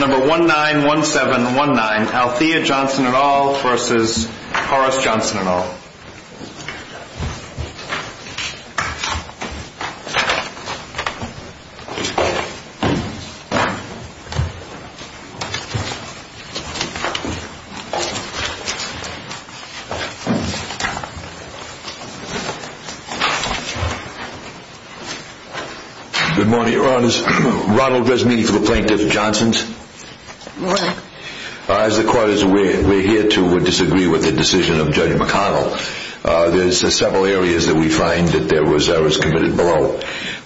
number one nine one seven one nine Althea Johnson at all versus Horace Johnson at all. Good morning, Your Honors. Ronald Resnini for the Plaintiff's and Johnson's. Good morning. As the Court is aware, we're here to disagree with the decision of Judge McConnell. There's several areas that we find that there was errors committed below.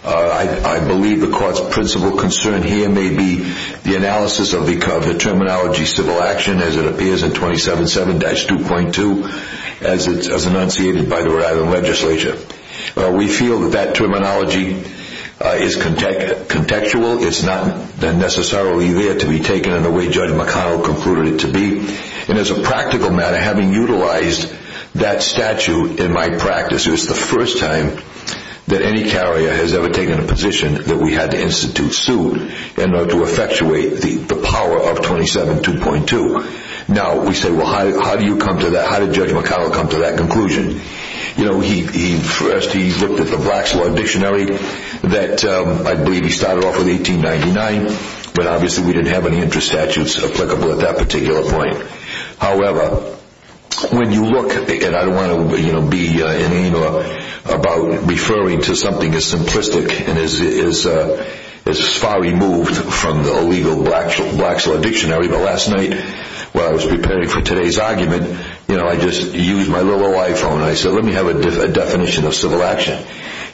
I believe the Court's principal concern here may be the analysis of the terminology civil action as it appears in 27-7-2.2 as enunciated by the Rhode Island Legislature. We feel that that terminology is contextual. It's not necessarily there to be taken in the way Judge McConnell concluded it to be. And as a practical matter, having utilized that statute in my practice, it was the first time that any carrier has ever taken a position that we had to institute suit in order to effectuate the power of 27-2.2. Now, we say, well, how do you come to that? How did Judge McConnell come to that conclusion? You know, he first looked at the Blacks Law Dictionary that I believe he started off with in 1899, but obviously we didn't have any interest statutes applicable at that particular point. However, when you look, and I don't want to be inane about referring to something as simplistic and as far removed from the illegal Blacks Law Dictionary, but last night while I was preparing for today's argument, I just used my little old iPhone and I said, let me have a definition of civil action.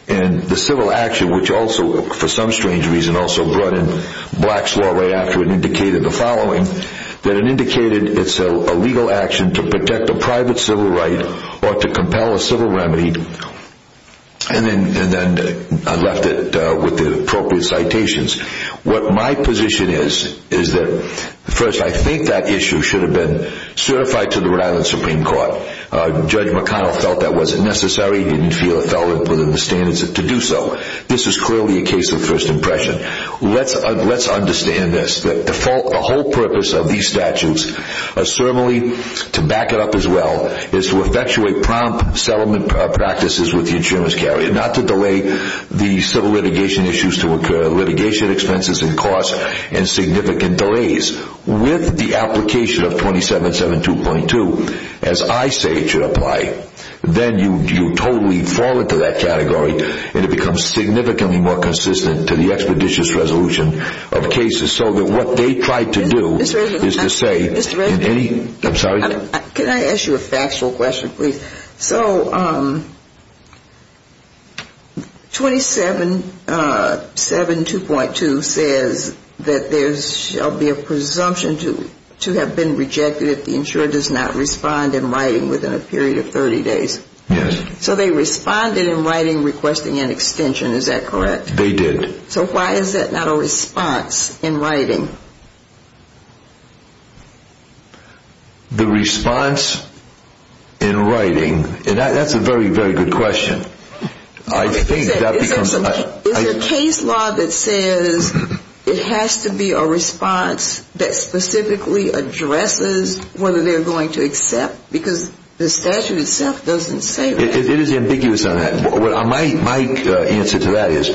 And the civil action, which also, for some strange reason, also brought in Blacks Law right after it indicated the following, that it indicated it's a legal action to protect a private civil right or to compel a civil remedy, and then I left it with the appropriate citations. What my position is, is that, first, I think that issue should have been certified to the Rhode Island Supreme Court. Judge McConnell felt that wasn't necessary. He didn't feel it fell within the standards to do so. This is clearly a case of first impression. Let's understand this. The whole purpose of these statutes, certainly to back it up as well, is to effectuate prompt settlement practices with the insurance carrier, not to delay the civil litigation issues to occur, litigation expenses and costs, and significant delays. If you apply this with the application of 27.7.2.2, as I say it should apply, then you totally fall into that category and it becomes significantly more consistent to the expeditious resolution of cases so that what they tried to do is to say in any – I'm sorry? Can I ask you a factual question, please? So 27.7.2.2 says that there shall be a presumption to have been rejected if the insurer does not respond in writing within a period of 30 days. Yes. So they responded in writing requesting an extension, is that correct? They did. So why is that not a response in writing? The response in writing – and that's a very, very good question. I think that becomes – Is there a case law that says it has to be a response that specifically addresses whether they're going to accept? Because the statute itself doesn't say that. It is ambiguous on that. My answer to that is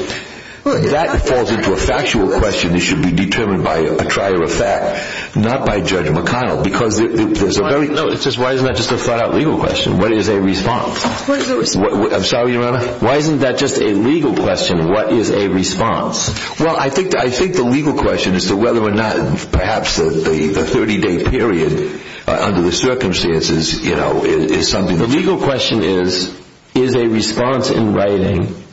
that falls into a factual question that should be determined by a trier of fact, not by Judge McConnell, because there's a very – No, it's just why isn't that just a flat-out legal question? What is a response? I'm sorry, Your Honor? Why isn't that just a legal question? What is a response? Well, I think the legal question as to whether or not perhaps the 30-day period under the circumstances, you know, is something – The legal question is, is a response in writing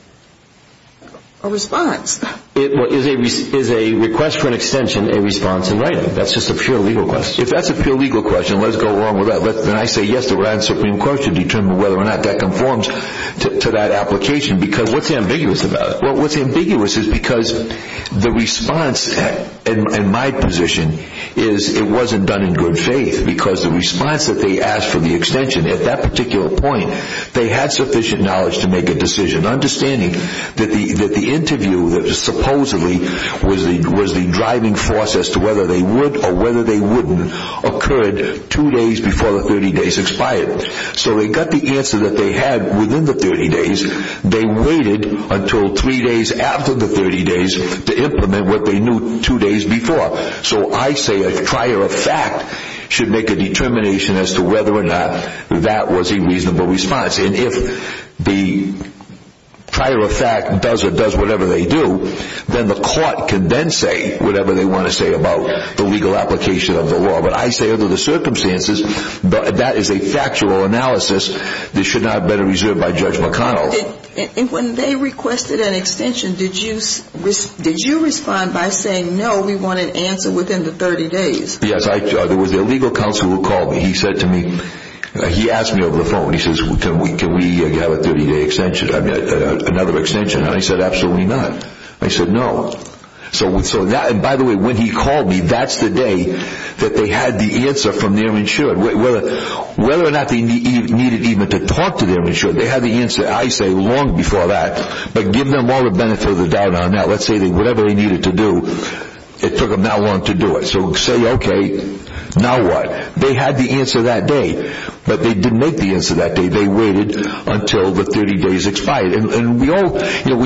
– A response. Is a request for an extension a response in writing? That's just a pure legal question. If that's a pure legal question, let's go along with that. Then I say yes, the writing of the Supreme Court should determine whether or not that conforms to that application, because what's ambiguous about it? Well, what's ambiguous is because the response in my position is it wasn't done in good faith, because the response that they asked for the extension at that particular point, they had sufficient knowledge to make a decision, understanding that the interview that supposedly was the driving force as to whether they would or whether they wouldn't occurred two days before the 30 days expired. So they got the answer that they had within the 30 days. They waited until three days after the 30 days to implement what they knew two days before. So I say a prior effect should make a determination as to whether or not that was a reasonable response. And if the prior effect does or does whatever they do, then the court can then say whatever they want to say about the legal application of the law. But I say under the circumstances, that is a factual analysis that should not have been reserved by Judge McConnell. When they requested an extension, did you respond by saying no, we want an answer within the 30 days? Yes, there was a legal counsel who called me. He said to me, he asked me over the phone, he says, can we have a 30-day extension, another extension? I said, absolutely not. He said, no. So by the way, when he called me, that's the day that they had the answer from their insured. Whether or not they needed even to talk to their insured, they had the answer, I say, long before that. But give them all the benefit of the doubt on that. Let's say that whatever they needed to do, it took them that long to do it. So say, okay, now what? They had the answer that day, but they didn't make the answer that day. They waited until the 30 days expired. And we all, when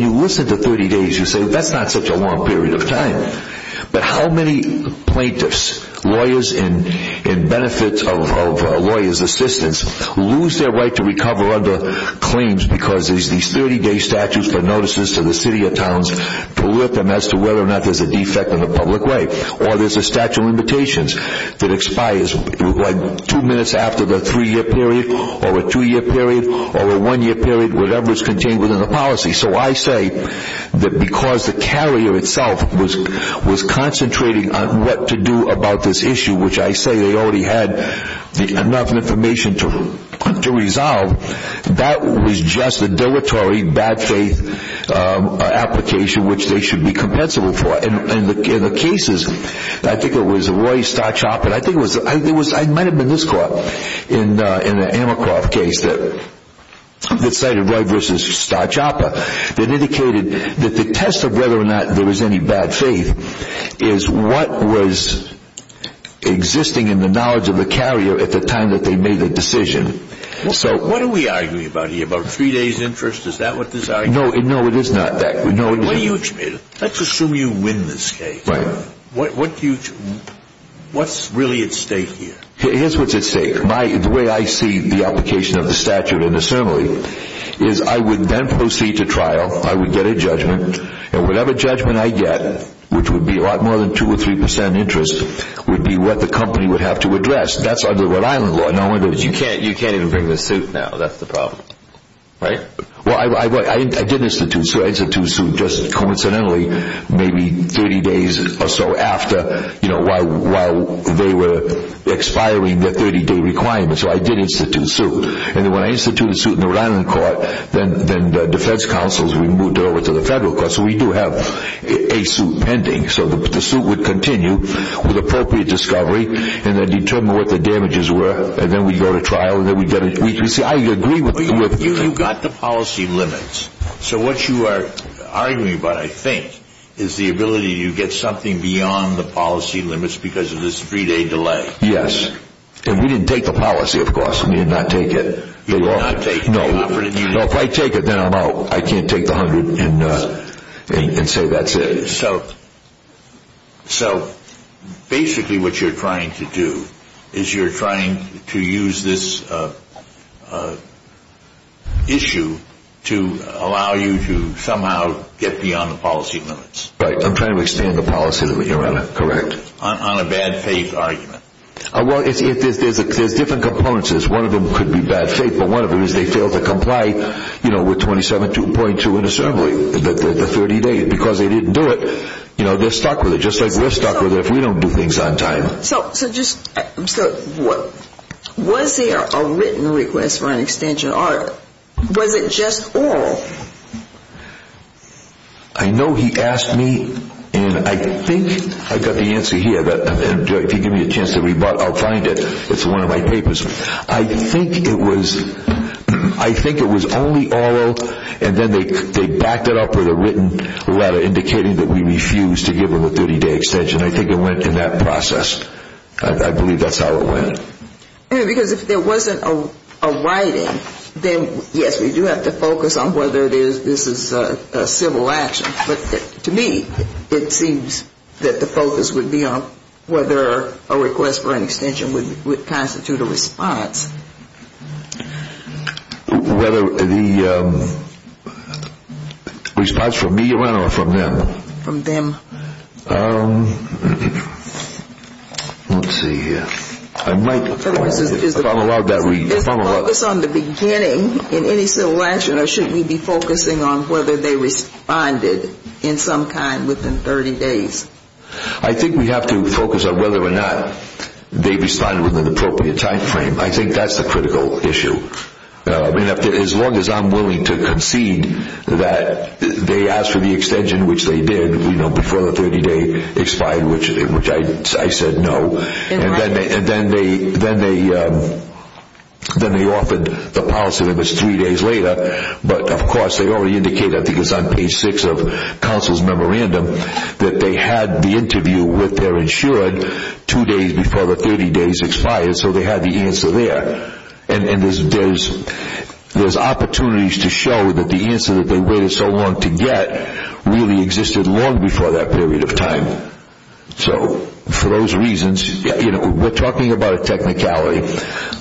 you listen to 30 days, you say, that's not such a long period of time. But how many plaintiffs, lawyers in benefit of lawyers' assistance, lose their right to recover under claims because these 30-day statutes, the notices to the city or towns, proliferate as to whether or not there's a defect in the public way. Or there's a statute of limitations that expires two minutes after the three-year period or a two-year period or a one-year period, whatever is contained within the policy. So I say that because the carrier itself was concentrating on what to do about this issue, which I say they already had enough information to resolve, that was just a deletery, bad faith application which they should be compensable for. In the cases, I think it was Roy Starchopper, I think it was, it might have been this court in the Amercroft case that cited Roy versus Starchopper, that indicated that the test of whether or not there was any bad faith is what was existing in the knowledge of the carrier at the time that they made the decision. So what are we arguing about here, about three days' interest? Is that what this argument is? No, it is not that. Let's assume you win this case. What's really at stake here? Here's what's at stake. The way I see the application of the statute in the ceremony is I would then proceed to trial, I would get a judgment, and whatever judgment I get, which would be a lot more than two or three percent interest, would be what the company would have to address. That's under the Rhode Island law. You can't even bring the suit now, that's the problem, right? Well, I did institute a suit, just coincidentally, maybe 30 days or so after, while they were expiring the 30-day requirement, so I did institute a suit. And when I instituted a suit in the Rhode Island court, then the defense counsels, we moved it over to the federal court, so we do have a suit pending. So the suit would continue with appropriate discovery, and then determine what the damages were, and then we go to trial. I agree with you. You've got the policy limits. So what you are arguing about, I think, is the ability to get something beyond the policy limits because of this three-day delay. Yes. And we didn't take the policy, of course. We did not take it. You did not take it. No, if I take it, then I'm out. I can't take the hundred and say that's it. So basically what you're trying to do is you're trying to use this issue to allow you to somehow get beyond the policy limits. Right. I'm trying to extend the policy limit, Your Honor. Correct. On a bad faith argument. Well, there's different components. One of them could be bad faith, but one of them is they fail to comply with 27.2 in a ceremony, the 30 days, because they didn't do it. They're stuck with it, just like we're stuck with it if we don't do things on time. So was there a written request for an extension, or was it just oral? I know he asked me, and I think I've got the answer here, but if you give me a chance to rebut, I'll find it. It's one of my papers. I think it was only oral, and then they backed it up with a written letter indicating that we refused to give them a 30-day extension. I think it went in that process. I believe that's how it went. Because if there wasn't a writing, then, yes, we do have to focus on whether this is a civil action. But to me, it seems that the focus would be on whether a request for an extension would constitute a response. Whether the response from me, Your Honor, or from them? From them. Let's see here. I might follow up. Is the focus on the beginning in any civil action, or should we be focusing on whether they responded in some kind within 30 days? I think we have to focus on whether or not they responded within an appropriate time frame. I think that's the critical issue. As long as I'm willing to concede that they asked for the extension, which they did, before the 30-day expired, which I said no. Then they offered the policy that it was three days later. But, of course, they already indicated, I think it was on page 6 of counsel's memorandum, that they had the interview with their insured two days before the 30-days expired, so they had the answer there. And there's opportunities to show that the answer that they waited so long to get really existed long before that period of time. So, for those reasons, we're talking about a technicality,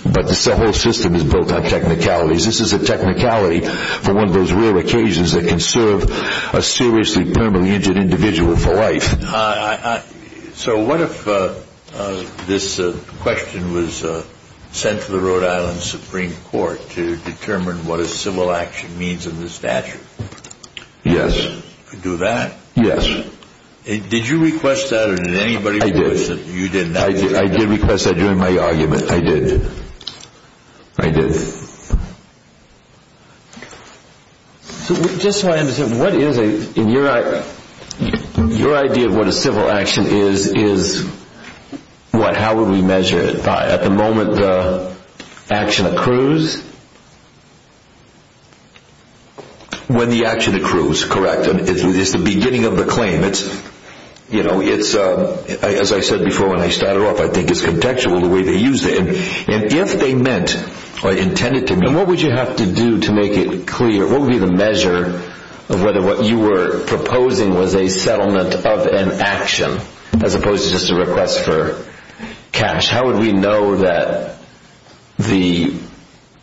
but the whole system is built on technicalities. This is a technicality for one of those rare occasions that can serve a seriously permanently injured individual for life. So what if this question was sent to the Rhode Island Supreme Court to determine what a civil action means in the statute? Yes. You could do that? Yes. Did you request that, or did anybody request it? I did. I did request that during my argument. I did. I did. Just so I understand, your idea of what a civil action is, how would we measure it? At the moment, the action accrues? When the action accrues, correct. It's the beginning of the claim. As I said before when I started off, I think it's contextual the way they used it. If they meant or intended to mean it, what would you have to do to make it clear? What would be the measure of whether what you were proposing was a settlement of an action as opposed to just a request for cash? How would we know that the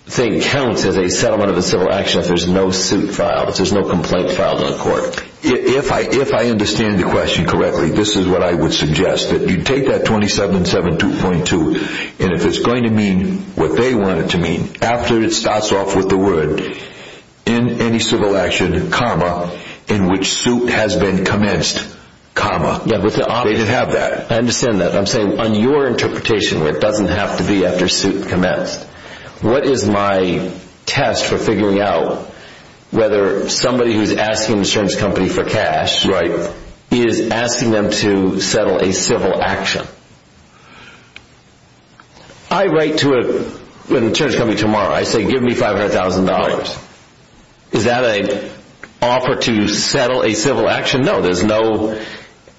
thing counts as a settlement of a civil action if there's no suit filed, if there's no complaint filed in court? If I understand the question correctly, this is what I would suggest. You take that 27-7-2.2, and if it's going to mean what they want it to mean, after it starts off with the word, in any civil action, comma, in which suit has been commenced, comma. They have that. I understand that. I'm saying on your interpretation, it doesn't have to be after suit commenced. What is my test for figuring out whether somebody who's asking an insurance company for cash is asking them to settle a civil action? I write to an insurance company tomorrow. I say, give me $500,000. Is that an offer to settle a civil action? No.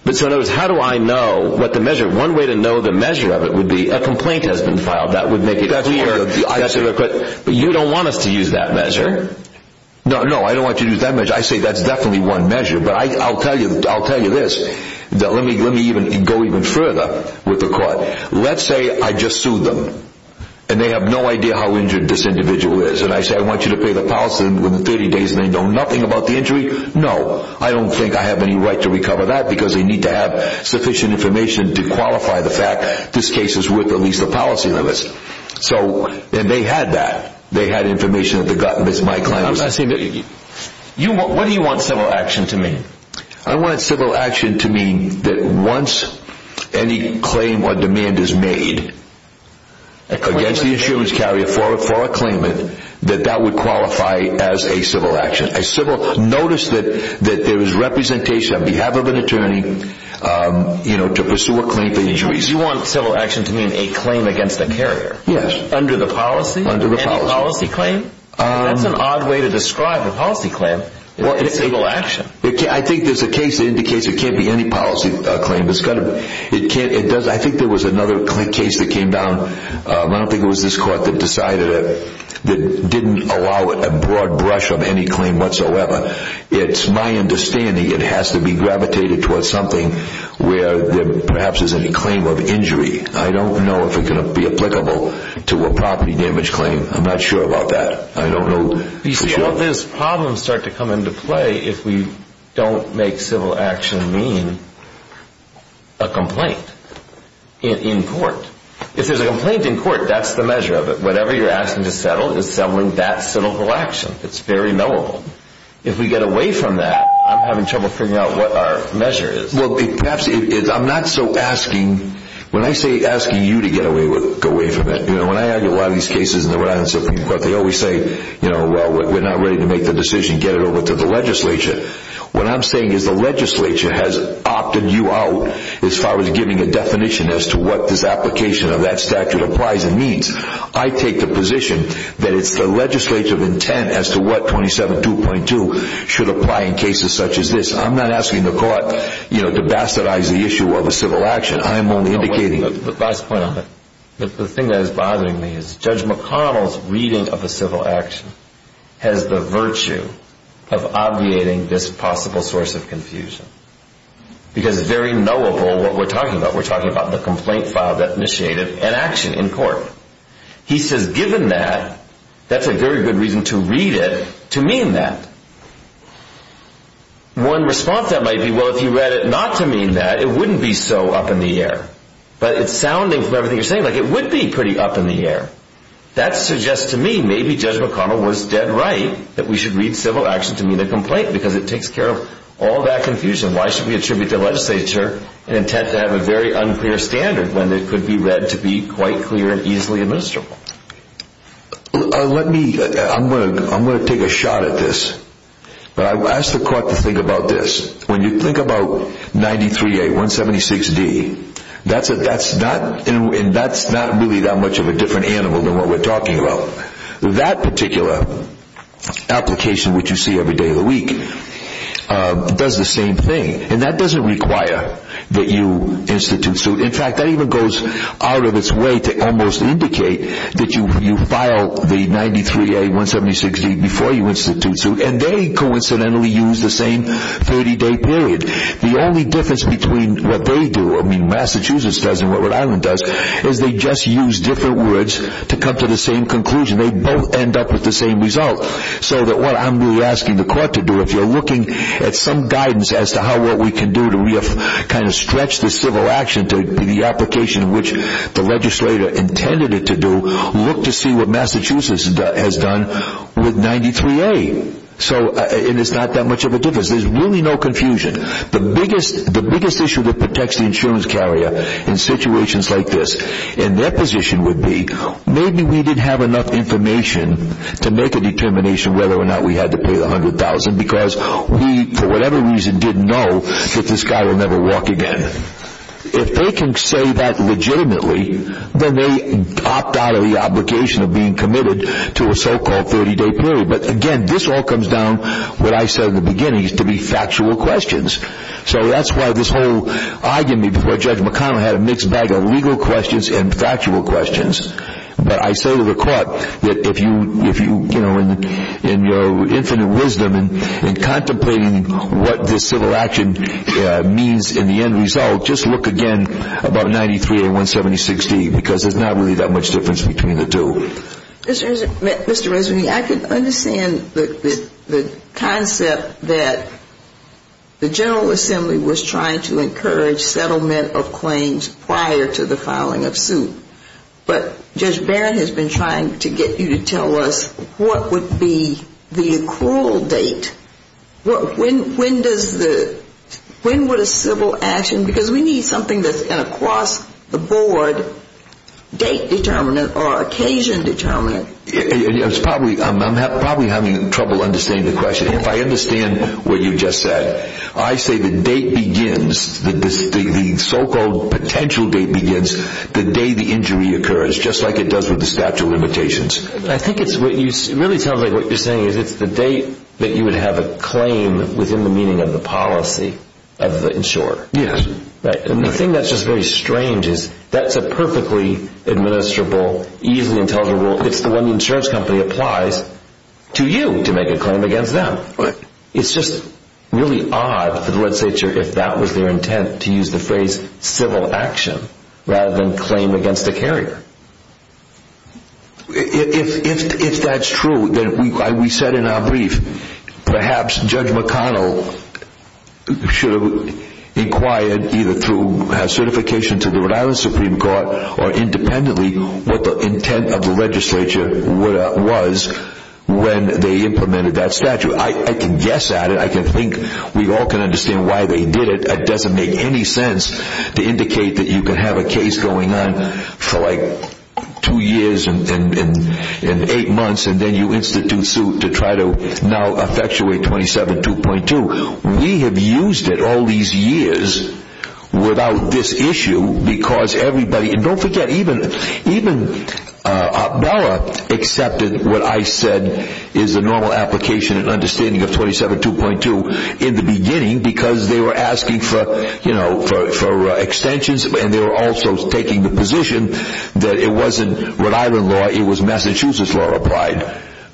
How do I know what the measure is? One way to know the measure of it would be a complaint has been filed. That would make it clear. You don't want us to use that measure. No, I don't want you to use that measure. I say that's definitely one measure, but I'll tell you this. Let me go even further with the court. Let's say I just sued them, and they have no idea how injured this individual is, and I say I want you to pay the policy within 30 days, and they know nothing about the injury. No, I don't think I have any right to recover that because they need to have sufficient information to qualify the fact this case is with at least a policy analyst. And they had that. They had information that my client was saying. What do you want civil action to mean? I want civil action to mean that once any claim or demand is made against the insurance carrier for a claimant, that that would qualify as a civil action. Notice that there was representation on behalf of an attorney to pursue a claim for injuries. You want civil action to mean a claim against a carrier? Yes. Under the policy? Under the policy. Any policy claim? That's an odd way to describe a policy claim. It's civil action. I think there's a case that indicates it can't be any policy claim. I think there was another case that came down. I don't think it was this court that decided it, that didn't allow it a broad brush of any claim whatsoever. It's my understanding it has to be gravitated towards something where perhaps there's any claim of injury. I don't know if it can be applicable to a property damage claim. I'm not sure about that. I don't know for sure. You see, all these problems start to come into play if we don't make civil action mean a complaint in court. If there's a complaint in court, that's the measure of it. Whatever you're asking to settle is settling that civil action. It's very knowable. If we get away from that, I'm having trouble figuring out what our measure is. Perhaps it is. I'm not so asking. When I say asking you to get away from it, when I argue a lot of these cases in the Rhode Island Supreme Court, they always say, well, we're not ready to make the decision, get it over to the legislature. What I'm saying is the legislature has opted you out as far as giving a definition as to what this application of that statute applies and means. I take the position that it's the legislative intent as to what 27.2.2 should apply in cases such as this. I'm not asking the court to bastardize the issue of a civil action. I'm only indicating— The thing that is bothering me is Judge McConnell's reading of a civil action has the virtue of obviating this possible source of confusion because it's very knowable what we're talking about. We're talking about the complaint filed that initiated an action in court. He says given that, that's a very good reason to read it to mean that. One response that might be, well, if you read it not to mean that, it wouldn't be so up in the air. But it's sounding from everything you're saying like it would be pretty up in the air. That suggests to me maybe Judge McConnell was dead right that we should read civil action to mean a complaint because it takes care of all that confusion. Why should we attribute the legislature an intent to have a very unclear standard when it could be read to be quite clear and easily admissible? Let me—I'm going to take a shot at this. But I ask the court to think about this. When you think about 93A 176D, that's not really that much of a different animal than what we're talking about. That particular application which you see every day of the week does the same thing. And that doesn't require that you institute suit. In fact, that even goes out of its way to almost indicate that you file the 93A 176D before you institute suit. And they coincidentally use the same 30-day period. The only difference between what they do, I mean Massachusetts does and what Rhode Island does, is they just use different words to come to the same conclusion. They both end up with the same result. So that what I'm really asking the court to do, if you're looking at some guidance as to how what we can do to kind of stretch the civil action to the application which the legislator intended it to do, look to see what Massachusetts has done with 93A. And it's not that much of a difference. There's really no confusion. The biggest issue that protects the insurance carrier in situations like this, and their position would be, maybe we didn't have enough information to make a determination whether or not we had to pay the $100,000 because we, for whatever reason, didn't know that this guy would never walk again. If they can say that legitimately, then they opt out of the obligation of being committed to a so-called 30-day period. But again, this all comes down, what I said in the beginning, to be factual questions. So that's why this whole argument before Judge McConnell had a mixed bag of legal questions and factual questions. But I say to the court that if you, you know, in your infinite wisdom and contemplating what this civil action means in the end result, just look again about 93A.170.16 because there's not really that much difference between the two. Mr. Resnick, I can understand the concept that the General Assembly was trying to encourage settlement of claims prior to the filing of suit. But Judge Barron has been trying to get you to tell us what would be the accrual date. When would a civil action, because we need something that's across the board, date-determinant or occasion-determinant. I'm probably having trouble understanding the question. If I understand what you just said, I say the date begins, the so-called potential date begins, the day the injury occurs, just like it does with the statute of limitations. I think it really sounds like what you're saying is it's the date that you would have a claim within the meaning of the policy of the insurer. Yes. And the thing that's just very strange is that's a perfectly administrable, easily intelligible, it's the one the insurance company applies to you to make a claim against them. It's just really odd for the legislature, if that was their intent, to use the phrase civil action rather than claim against a carrier. If that's true, then we said in our brief, perhaps Judge McConnell should have inquired either through certification to the Rhode Island Supreme Court or independently what the intent of the legislature was when they implemented that statute. I can guess at it, I can think, we all can understand why they did it. It doesn't make any sense to indicate that you can have a case going on for like two years and eight months and then you institute suit to try to now effectuate 27.2. We have used it all these years without this issue because everybody, and don't forget, even Appella accepted what I said is a normal application and understanding of 27.2 in the beginning because they were asking for extensions and they were also taking the position that it wasn't Rhode Island law, it was Massachusetts law applied.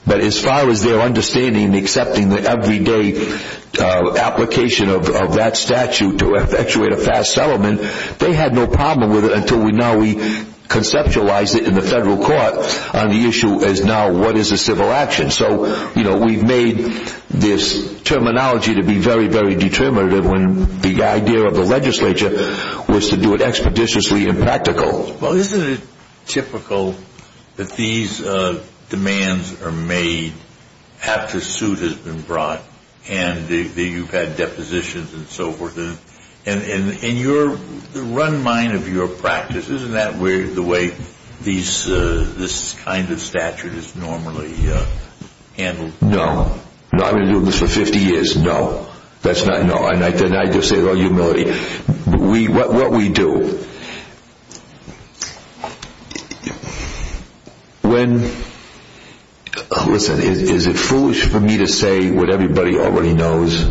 But as far as their understanding and accepting the everyday application of that statute to effectuate a fast settlement, they had no problem with it until now we conceptualize it in the federal court on the issue as now what is a civil action. So we've made this terminology to be very, very determinative when the idea of the legislature was to do it expeditiously and practical. Well, isn't it typical that these demands are made after suit has been brought and you've had depositions and so forth and the run mind of your practice, isn't that the way this kind of statute is normally handled? No. I've been doing this for 50 years. No. That's not, no. What we do, when, listen, is it foolish for me to say what everybody already knows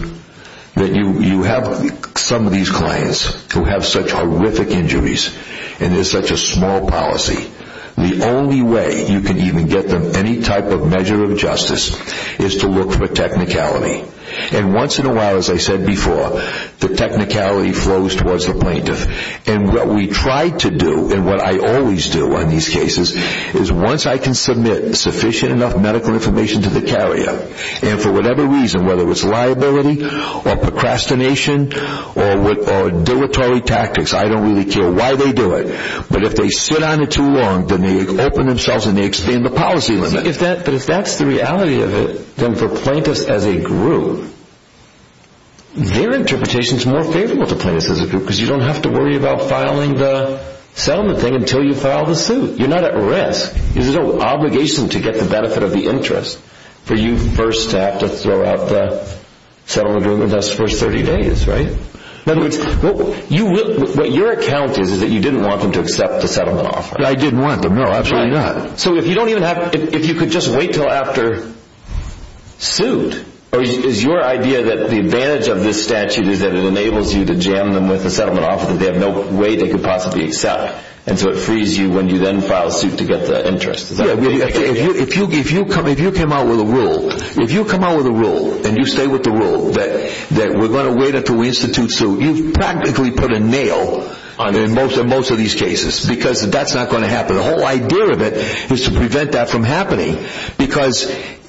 that you have some of these clients who have such horrific injuries and there's such a small policy, the only way you can even get them any type of measure of justice is to look for technicality. And once in a while, as I said before, the technicality flows towards the plaintiff. And what we try to do, and what I always do in these cases, is once I can submit sufficient enough medical information to the carrier, and for whatever reason, whether it's liability or procrastination or dilatory tactics, I don't really care why they do it, but if they sit on it too long, then they open themselves and they expand the policy limit. But if that's the reality of it, then for plaintiffs as a group, their interpretation is more favorable to plaintiffs as a group because you don't have to worry about filing the settlement thing until you file the suit. You're not at risk. It's an obligation to get the benefit of the interest for you first to have to throw out the settlement agreement and that's the first 30 days, right? In other words, what your account is, is that you didn't want them to accept the settlement offer. I didn't want them, no, absolutely not. So if you don't even have, if you could just wait until after suit, or is your idea that the advantage of this statute is that it enables you to jam them with the settlement offer that they have no way they could possibly accept? And so it frees you when you then file suit to get the interest? Yeah, if you came out with a rule, if you come out with a rule and you stay with the rule that we're going to wait until we institute suit, you've practically put a nail in most of these cases because that's not going to happen. The whole idea of it is to prevent that from happening because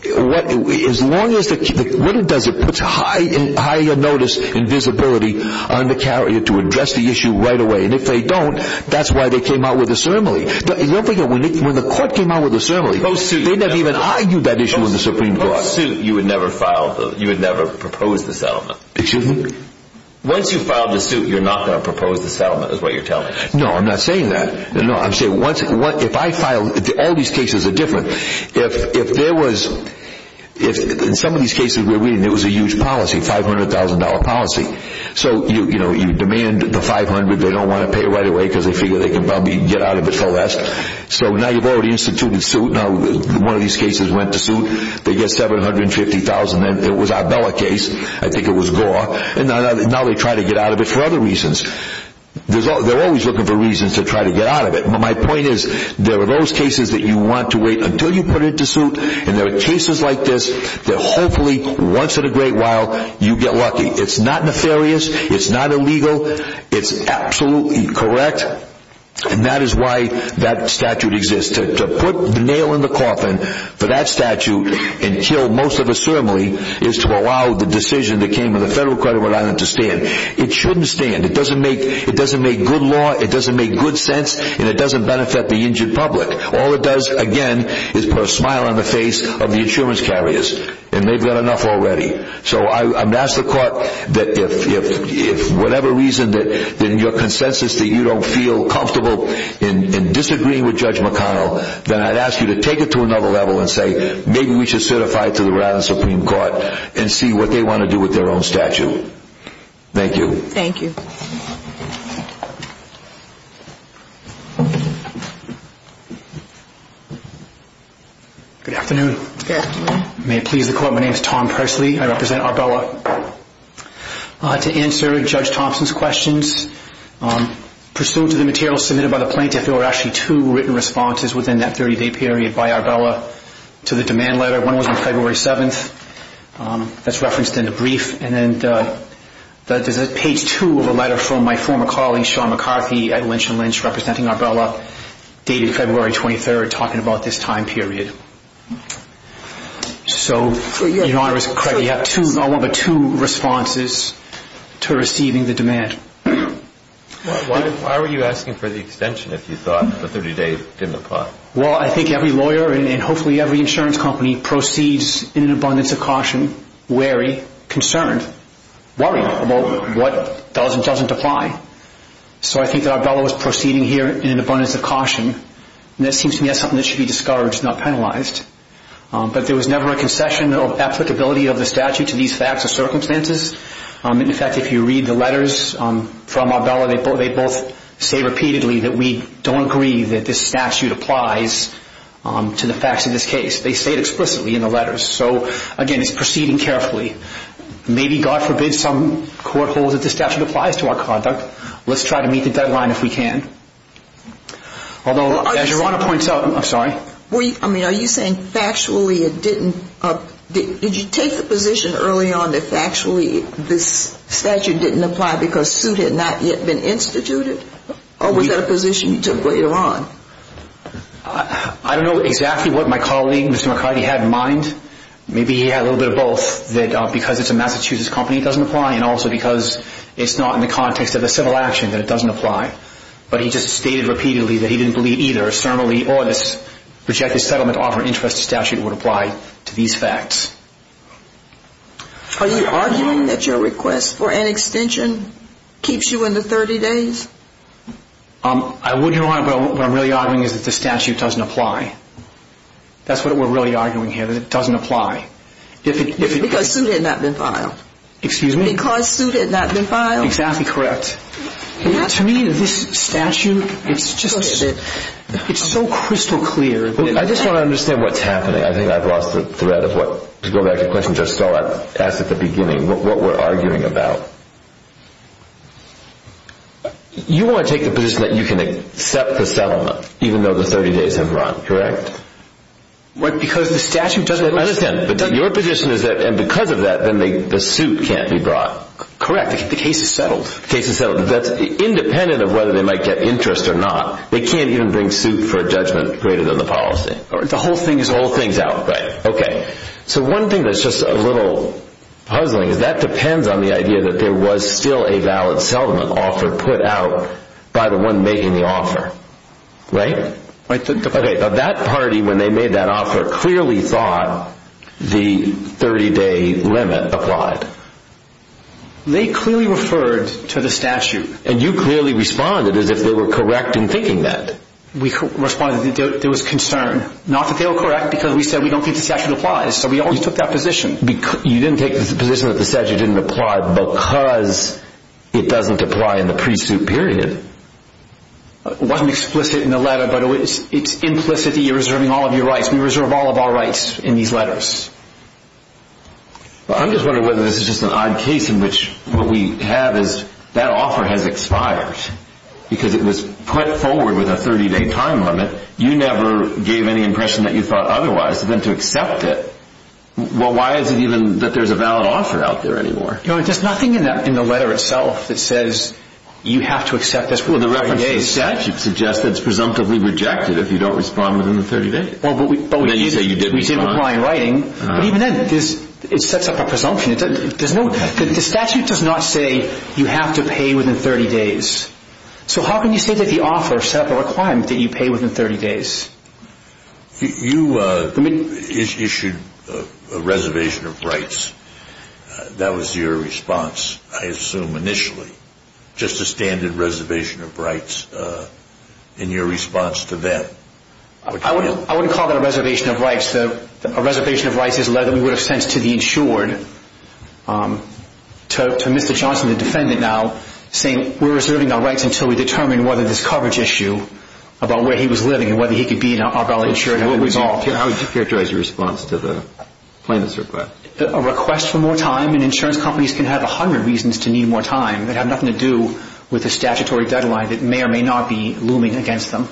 as long as, what it does, it puts high notice and visibility on the carrier to address the issue right away and if they don't, that's why they came out with a ceremony. Don't forget, when the court came out with a ceremony, they never even argued that issue with the Supreme Court. Post-suit, you would never file, you would never propose the settlement. Excuse me? Once you file the suit, you're not going to propose the settlement is what you're telling me. No, I'm not saying that. No, I'm saying once, if I file, all these cases are different. If there was, in some of these cases we're reading, there was a huge policy, $500,000 policy. So, you know, you demand the $500,000, they don't want to pay right away because they figure they can probably get out of it for less. So now you've already instituted suit, now one of these cases went to suit, they get $750,000, and it was our Bella case, I think it was Gore, and now they try to get out of it for other reasons. They're always looking for reasons to try to get out of it. My point is, there are those cases that you want to wait until you put it to suit, and there are cases like this that hopefully, once in a great while, you get lucky. It's not nefarious, it's not illegal, it's absolutely correct, and that is why that statute exists. To put the nail in the coffin for that statute and kill most of the ceremony is to allow the decision that came in the Federal Court of Rhode Island to stand. It shouldn't stand. It doesn't make good law, it doesn't make good sense, and it doesn't benefit the injured public. All it does, again, is put a smile on the face of the insurance carriers, and they've got enough already. So I would ask the court that if whatever reason, in your consensus, that you don't feel comfortable in disagreeing with Judge McConnell, then I'd ask you to take it to another level and say, maybe we should certify it to the Rhode Island Supreme Court and see what they want to do with their own statute. Thank you. Thank you. Good afternoon. Good afternoon. May it please the Court, my name is Tom Presley. I represent Arbella. To answer Judge Thompson's questions, pursuant to the materials submitted by the plaintiff, there were actually two written responses within that 30-day period by Arbella to the demand letter. One was on February 7th. That's referenced in the brief. And then there's a page two of a letter from my former colleague, Sean McCarthy, at Lynch & Lynch, representing Arbella, dated February 23rd, talking about this time period. So, Your Honor, you have two responses to receiving the demand. Why were you asking for the extension, if you thought the 30-day didn't apply? Well, I think every lawyer, and hopefully every insurance company, proceeds in an abundance of caution, wary, concerned, worried about what does and doesn't apply. So I think that Arbella was proceeding here in an abundance of caution, and that seems to me as something that should be discouraged, not penalized. But there was never a concession of applicability of the statute to these facts or circumstances. In fact, if you read the letters from Arbella, they both say repeatedly that we don't agree that this statute applies to the facts of this case. They say it explicitly in the letters. So, again, it's proceeding carefully. Maybe, God forbid, some court holds that the statute applies to our conduct. Let's try to meet the deadline if we can. Although, as Your Honor points out, I'm sorry? I mean, are you saying factually it didn't? Did you take the position early on that factually this statute didn't apply because suit had not yet been instituted? Or was that a position you took later on? I don't know exactly what my colleague, Mr. McCarty, had in mind. Maybe he had a little bit of both, that because it's a Massachusetts company, it doesn't apply, and also because it's not in the context of a civil action that it doesn't apply. But he just stated repeatedly that he didn't believe either, rejected settlement offer interest statute would apply to these facts. Are you arguing that your request for an extension keeps you in the 30 days? I would, Your Honor, but what I'm really arguing is that the statute doesn't apply. That's what we're really arguing here, that it doesn't apply. Because suit had not been filed. Excuse me? Because suit had not been filed. Exactly correct. To me, this statute, it's just so crystal clear. I just want to understand what's happening. I think I've lost the thread of what, to go back to the question Judge Stoll asked at the beginning, what we're arguing about. You want to take the position that you can accept the settlement even though the 30 days have run, correct? What, because the statute doesn't apply? I understand, but your position is that because of that, then the suit can't be brought. Correct, the case is settled. The case is settled. Independent of whether they might get interest or not, they can't even bring suit for a judgment greater than the policy. The whole thing is out. Right. Okay. So one thing that's just a little puzzling is that depends on the idea that there was still a valid settlement offer put out by the one making the offer. Right? That party, when they made that offer, clearly thought the 30-day limit applied. They clearly referred to the statute. And you clearly responded as if they were correct in thinking that. We responded that there was concern, not that they were correct because we said we don't think the statute applies, so we always took that position. You didn't take the position that the statute didn't apply because it doesn't apply in the pre-suit period. It wasn't explicit in the letter, but it's implicit that you're reserving all of your rights. We reserve all of our rights in these letters. I'm just wondering whether this is just an odd case in which what we have is that offer has expired because it was put forward with a 30-day time limit. You never gave any impression that you thought otherwise. Then to accept it, well, why is it even that there's a valid offer out there anymore? There's nothing in the letter itself that says you have to accept this within 30 days. Well, the reference to the statute suggests that it's presumptively rejected if you don't respond within the 30 days. Then you say you didn't respond. We did reply in writing, but even then it sets up a presumption. The statute does not say you have to pay within 30 days. So how can you say that the offer set up a requirement that you pay within 30 days? You issued a reservation of rights. That was your response, I assume, initially, just a standard reservation of rights in your response to them. I wouldn't call that a reservation of rights. A reservation of rights is a letter we would have sent to the insured, to Mr. Johnson, the defendant now, saying we're reserving our rights until we determine whether this coverage issue about where he was living and whether he could be in our ballot insured had been resolved. How would you characterize your response to the plaintiff's request? A request for more time, and insurance companies can have a hundred reasons to need more time. They have nothing to do with the statutory deadline that may or may not be looming against them.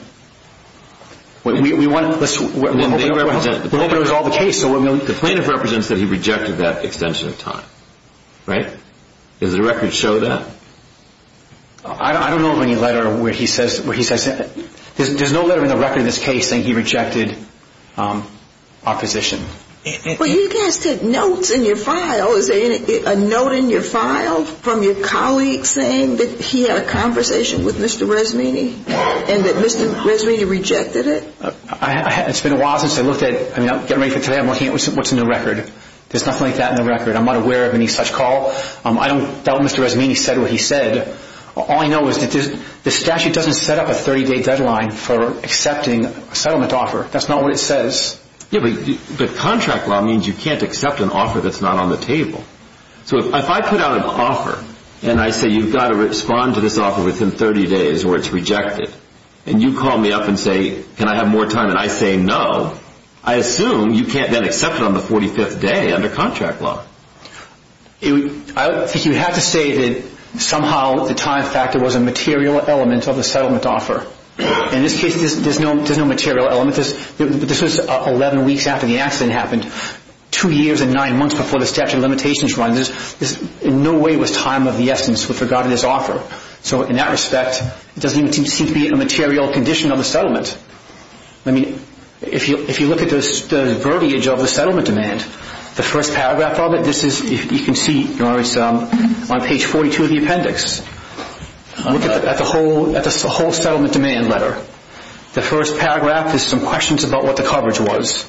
We want to open up all the cases. The plaintiff represents that he rejected that extension of time, right? Does the record show that? I don't know of any letter where he says that. There's no letter in the record in this case saying he rejected opposition. Well, you guys take notes in your file. Is there a note in your file from your colleague saying that he had a conversation with Mr. Resmini and that Mr. Resmini rejected it? It's been a while since I looked at it. I'm getting ready for today. I'm looking at what's in the record. There's nothing like that in the record. I'm not aware of any such call. I don't doubt Mr. Resmini said what he said. All I know is that the statute doesn't set up a 30-day deadline for accepting a settlement offer. That's not what it says. Yeah, but contract law means you can't accept an offer that's not on the table. So if I put out an offer and I say you've got to respond to this offer within 30 days or it's rejected, and you call me up and say, can I have more time, and I say no, I assume you can't then accept it on the 45th day under contract law. I think you have to say that somehow the time factor was a material element of the settlement offer. In this case, there's no material element. This was 11 weeks after the accident happened, two years and nine months before the statute of limitations was run. In no way was time of the essence with regard to this offer. So in that respect, it doesn't seem to be a material condition of the settlement. If you look at the vertiage of the settlement demand, the first paragraph of it, you can see it's on page 42 of the appendix. Look at the whole settlement demand letter. The first paragraph is some questions about what the coverage was.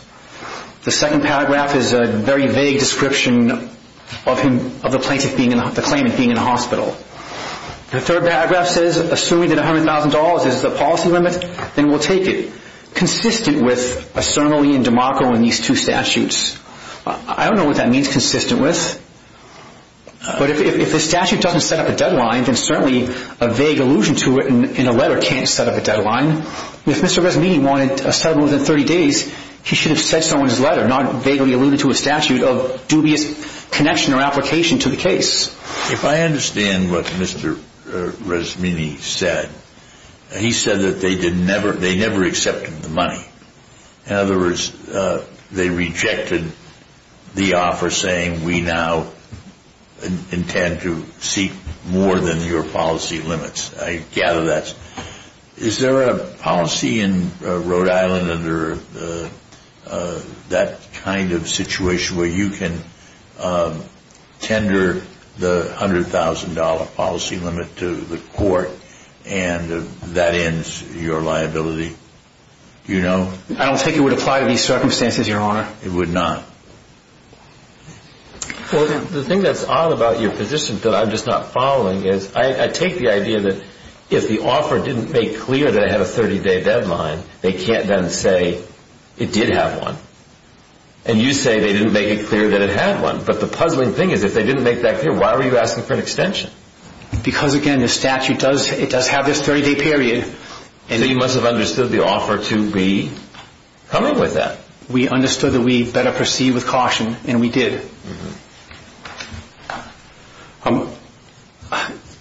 The second paragraph is a very vague description of the plaintiff being in the hospital. The third paragraph says assuming that $100,000 is the policy limit, then we'll take it. Consistent with a ceremony and demarco in these two statutes. I don't know what that means, consistent with. But if the statute doesn't set up a deadline, then certainly a vague allusion to it in a letter can't set up a deadline. If Mr. Rasmini wanted a settlement within 30 days, he should have said so in his letter, not vaguely alluded to a statute of dubious connection or application to the case. If I understand what Mr. Rasmini said, he said that they never accepted the money. In other words, they rejected the offer saying we now intend to seek more than your policy limits. I gather that. Is there a policy in Rhode Island under that kind of situation where you can tender the $100,000 policy limit to the court and that ends your liability? Do you know? I don't think it would apply to these circumstances, Your Honor. It would not. Well, the thing that's odd about your position that I'm just not following is I take the idea that if the offer didn't make clear that it had a 30-day deadline, they can't then say it did have one. And you say they didn't make it clear that it had one. But the puzzling thing is if they didn't make that clear, why were you asking for an extension? Because, again, the statute does have this 30-day period. So you must have understood the offer to be coming with that. We understood that we better proceed with caution, and we did.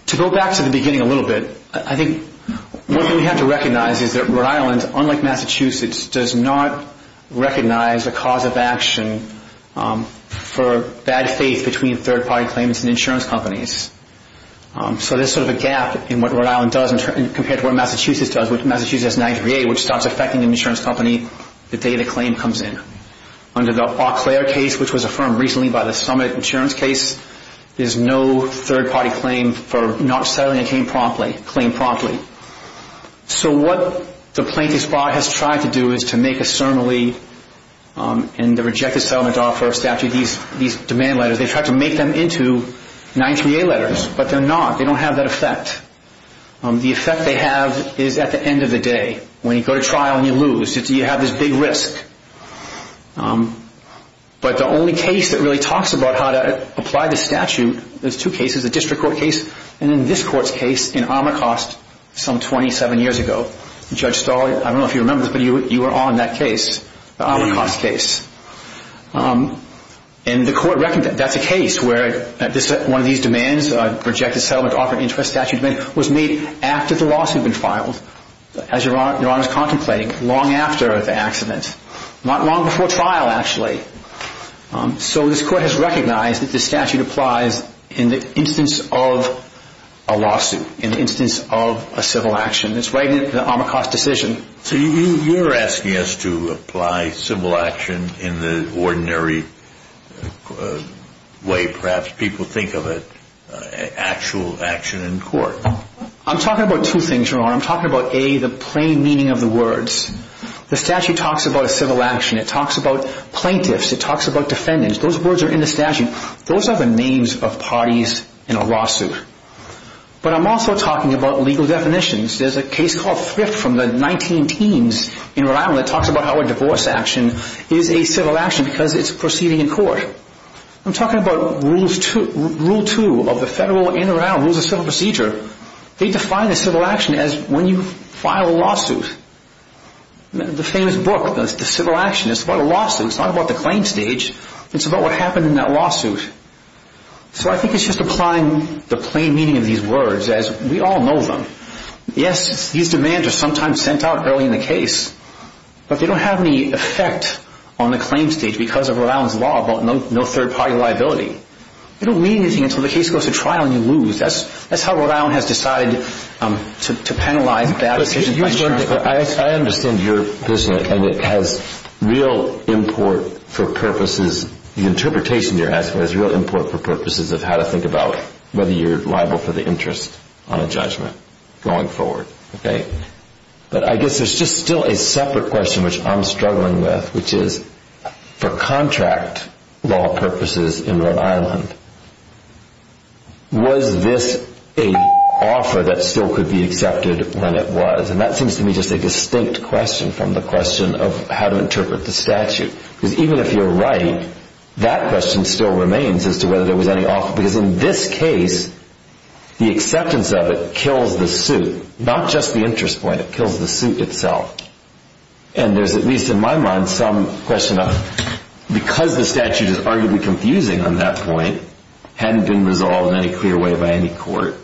To go back to the beginning a little bit, I think one thing we have to recognize is that Rhode Island, unlike Massachusetts, does not recognize a cause of action for bad faith between third-party claims and insurance companies. So there's sort of a gap in what Rhode Island does compared to what Massachusetts does, which starts affecting an insurance company the day the claim comes in. Under the Eau Claire case, which was affirmed recently by the Summit insurance case, there's no third-party claim for not settling a claim promptly. So what the plaintiff's bar has tried to do is to make a ceremony in the rejected settlement offer statute, these demand letters. They've tried to make them into 938 letters, but they're not. They don't have that effect. The effect they have is at the end of the day. When you go to trial and you lose, you have this big risk. But the only case that really talks about how to apply the statute, there's two cases, the district court case and then this court's case in Amherst some 27 years ago. Judge Stahl, I don't know if you remember this, but you were on that case, the Amherst case. And the court reckoned that that's a case where one of these demands, a rejected settlement offer interest statute demand, was made after the lawsuit had been filed, as Your Honor is contemplating, long after the accident. Not long before trial, actually. So this court has recognized that the statute applies in the instance of a lawsuit, in the instance of a civil action. It's right in the Amherst decision. So you're asking us to apply civil action in the ordinary way perhaps people think of it, actual action in court. I'm talking about two things, Your Honor. I'm talking about, A, the plain meaning of the words. The statute talks about a civil action. It talks about plaintiffs. It talks about defendants. Those words are in the statute. Those are the names of parties in a lawsuit. But I'm also talking about legal definitions. There's a case called Thrift from the 19 teams in Rhode Island that talks about how a divorce action is a civil action because it's proceeding in court. I'm talking about rule two of the federal in and around rules of civil procedure. They define a civil action as when you file a lawsuit. The famous book, The Civil Action, it's about a lawsuit. It's not about the claim stage. It's about what happened in that lawsuit. So I think it's just applying the plain meaning of these words as we all know them. Yes, these demands are sometimes sent out early in the case, but they don't have any effect on the claim stage because of Rhode Island's law about no third-party liability. They don't mean anything until the case goes to trial and you lose. That's how Rhode Island has decided to penalize bad decisions. I understand your position, and it has real import for purposes. The interpretation you're asking has real import for purposes of how to think about whether you're liable for the interest on a judgment going forward. But I guess there's just still a separate question which I'm struggling with, which is for contract law purposes in Rhode Island, was this an offer that still could be accepted when it was? That seems to me just a distinct question from the question of how to interpret the statute. Even if you're right, that question still remains as to whether there was any offer at all because in this case the acceptance of it kills the suit, not just the interest point. It kills the suit itself. And there's at least in my mind some question of because the statute is arguably confusing on that point, hadn't been resolved in any clear way by any court,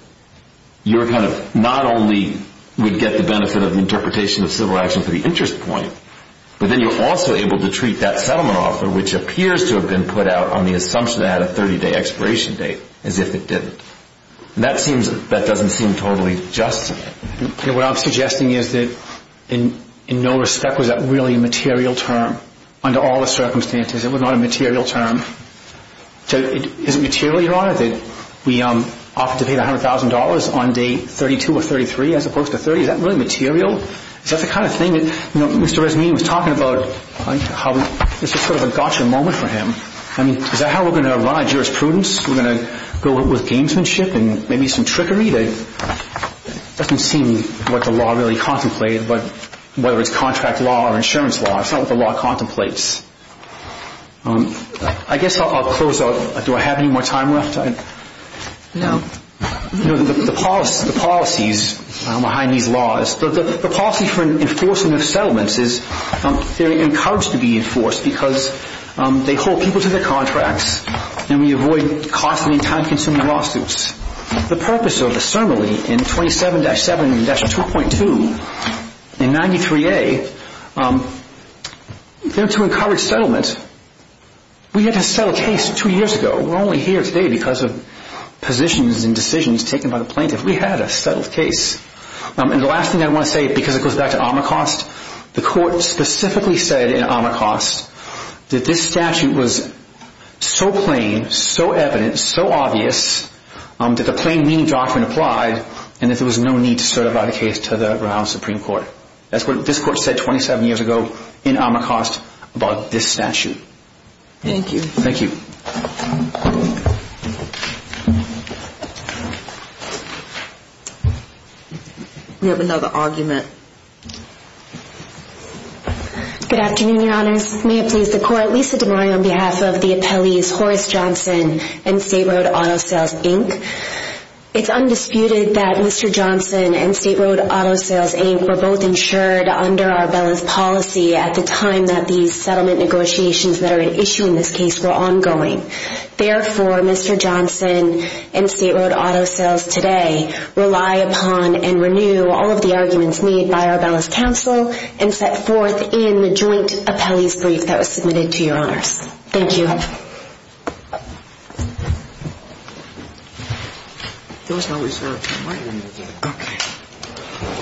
you not only would get the benefit of the interpretation of civil action for the interest point, but then you're also able to treat that settlement offer, which appears to have been put out on the assumption that it had a 30-day expiration date, as if it didn't. That doesn't seem totally just. What I'm suggesting is that in no respect was that really a material term under all the circumstances. It was not a material term. Is it material, Your Honor, that we opted to pay the $100,000 on day 32 or 33 as opposed to 30? Is that really material? Is that the kind of thing that Mr. Resnini was talking about? This was sort of a gotcha moment for him. Is that how we're going to run our jurisprudence? We're going to go with gamesmanship and maybe some trickery? It doesn't seem what the law really contemplated, whether it's contract law or insurance law. It's not what the law contemplates. I guess I'll close out. Do I have any more time left? No. The policies behind these laws, the policy for enforcement of settlements is they're encouraged to be enforced because they hold people to their contracts and we avoid costly, time-consuming lawsuits. The purpose of the ceremony in 27-7-2.2 in 93A, to encourage settlement, we had to settle a case two years ago. We're only here today because of positions and decisions taken by the plaintiff. We had a settled case. The last thing I want to say, because it goes back to Amherst, the court specifically said in Amherst that this statute was so plain, so evident, so obvious that the plain meaning doctrine applied and that there was no need to certify the case to the Brown Supreme Court. That's what this court said 27 years ago in Amherst about this statute. Thank you. Thank you. We have another argument. Good afternoon, Your Honors. May it please the Court. Lisa DeMaria on behalf of the appellees Horace Johnson and State Road Auto Sales, Inc. It's undisputed that Mr. Johnson and State Road Auto Sales, Inc. were both insured under Arbella's policy at the time that these settlement negotiations that are at issue in this case were ongoing. Therefore, Mr. Johnson and State Road Auto Sales today rely upon and renew all of the arguments made by Arbella's counsel and set forth in the joint appellee's brief that was submitted to Your Honors. Thank you. Thank you.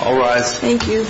All rise. Thank you.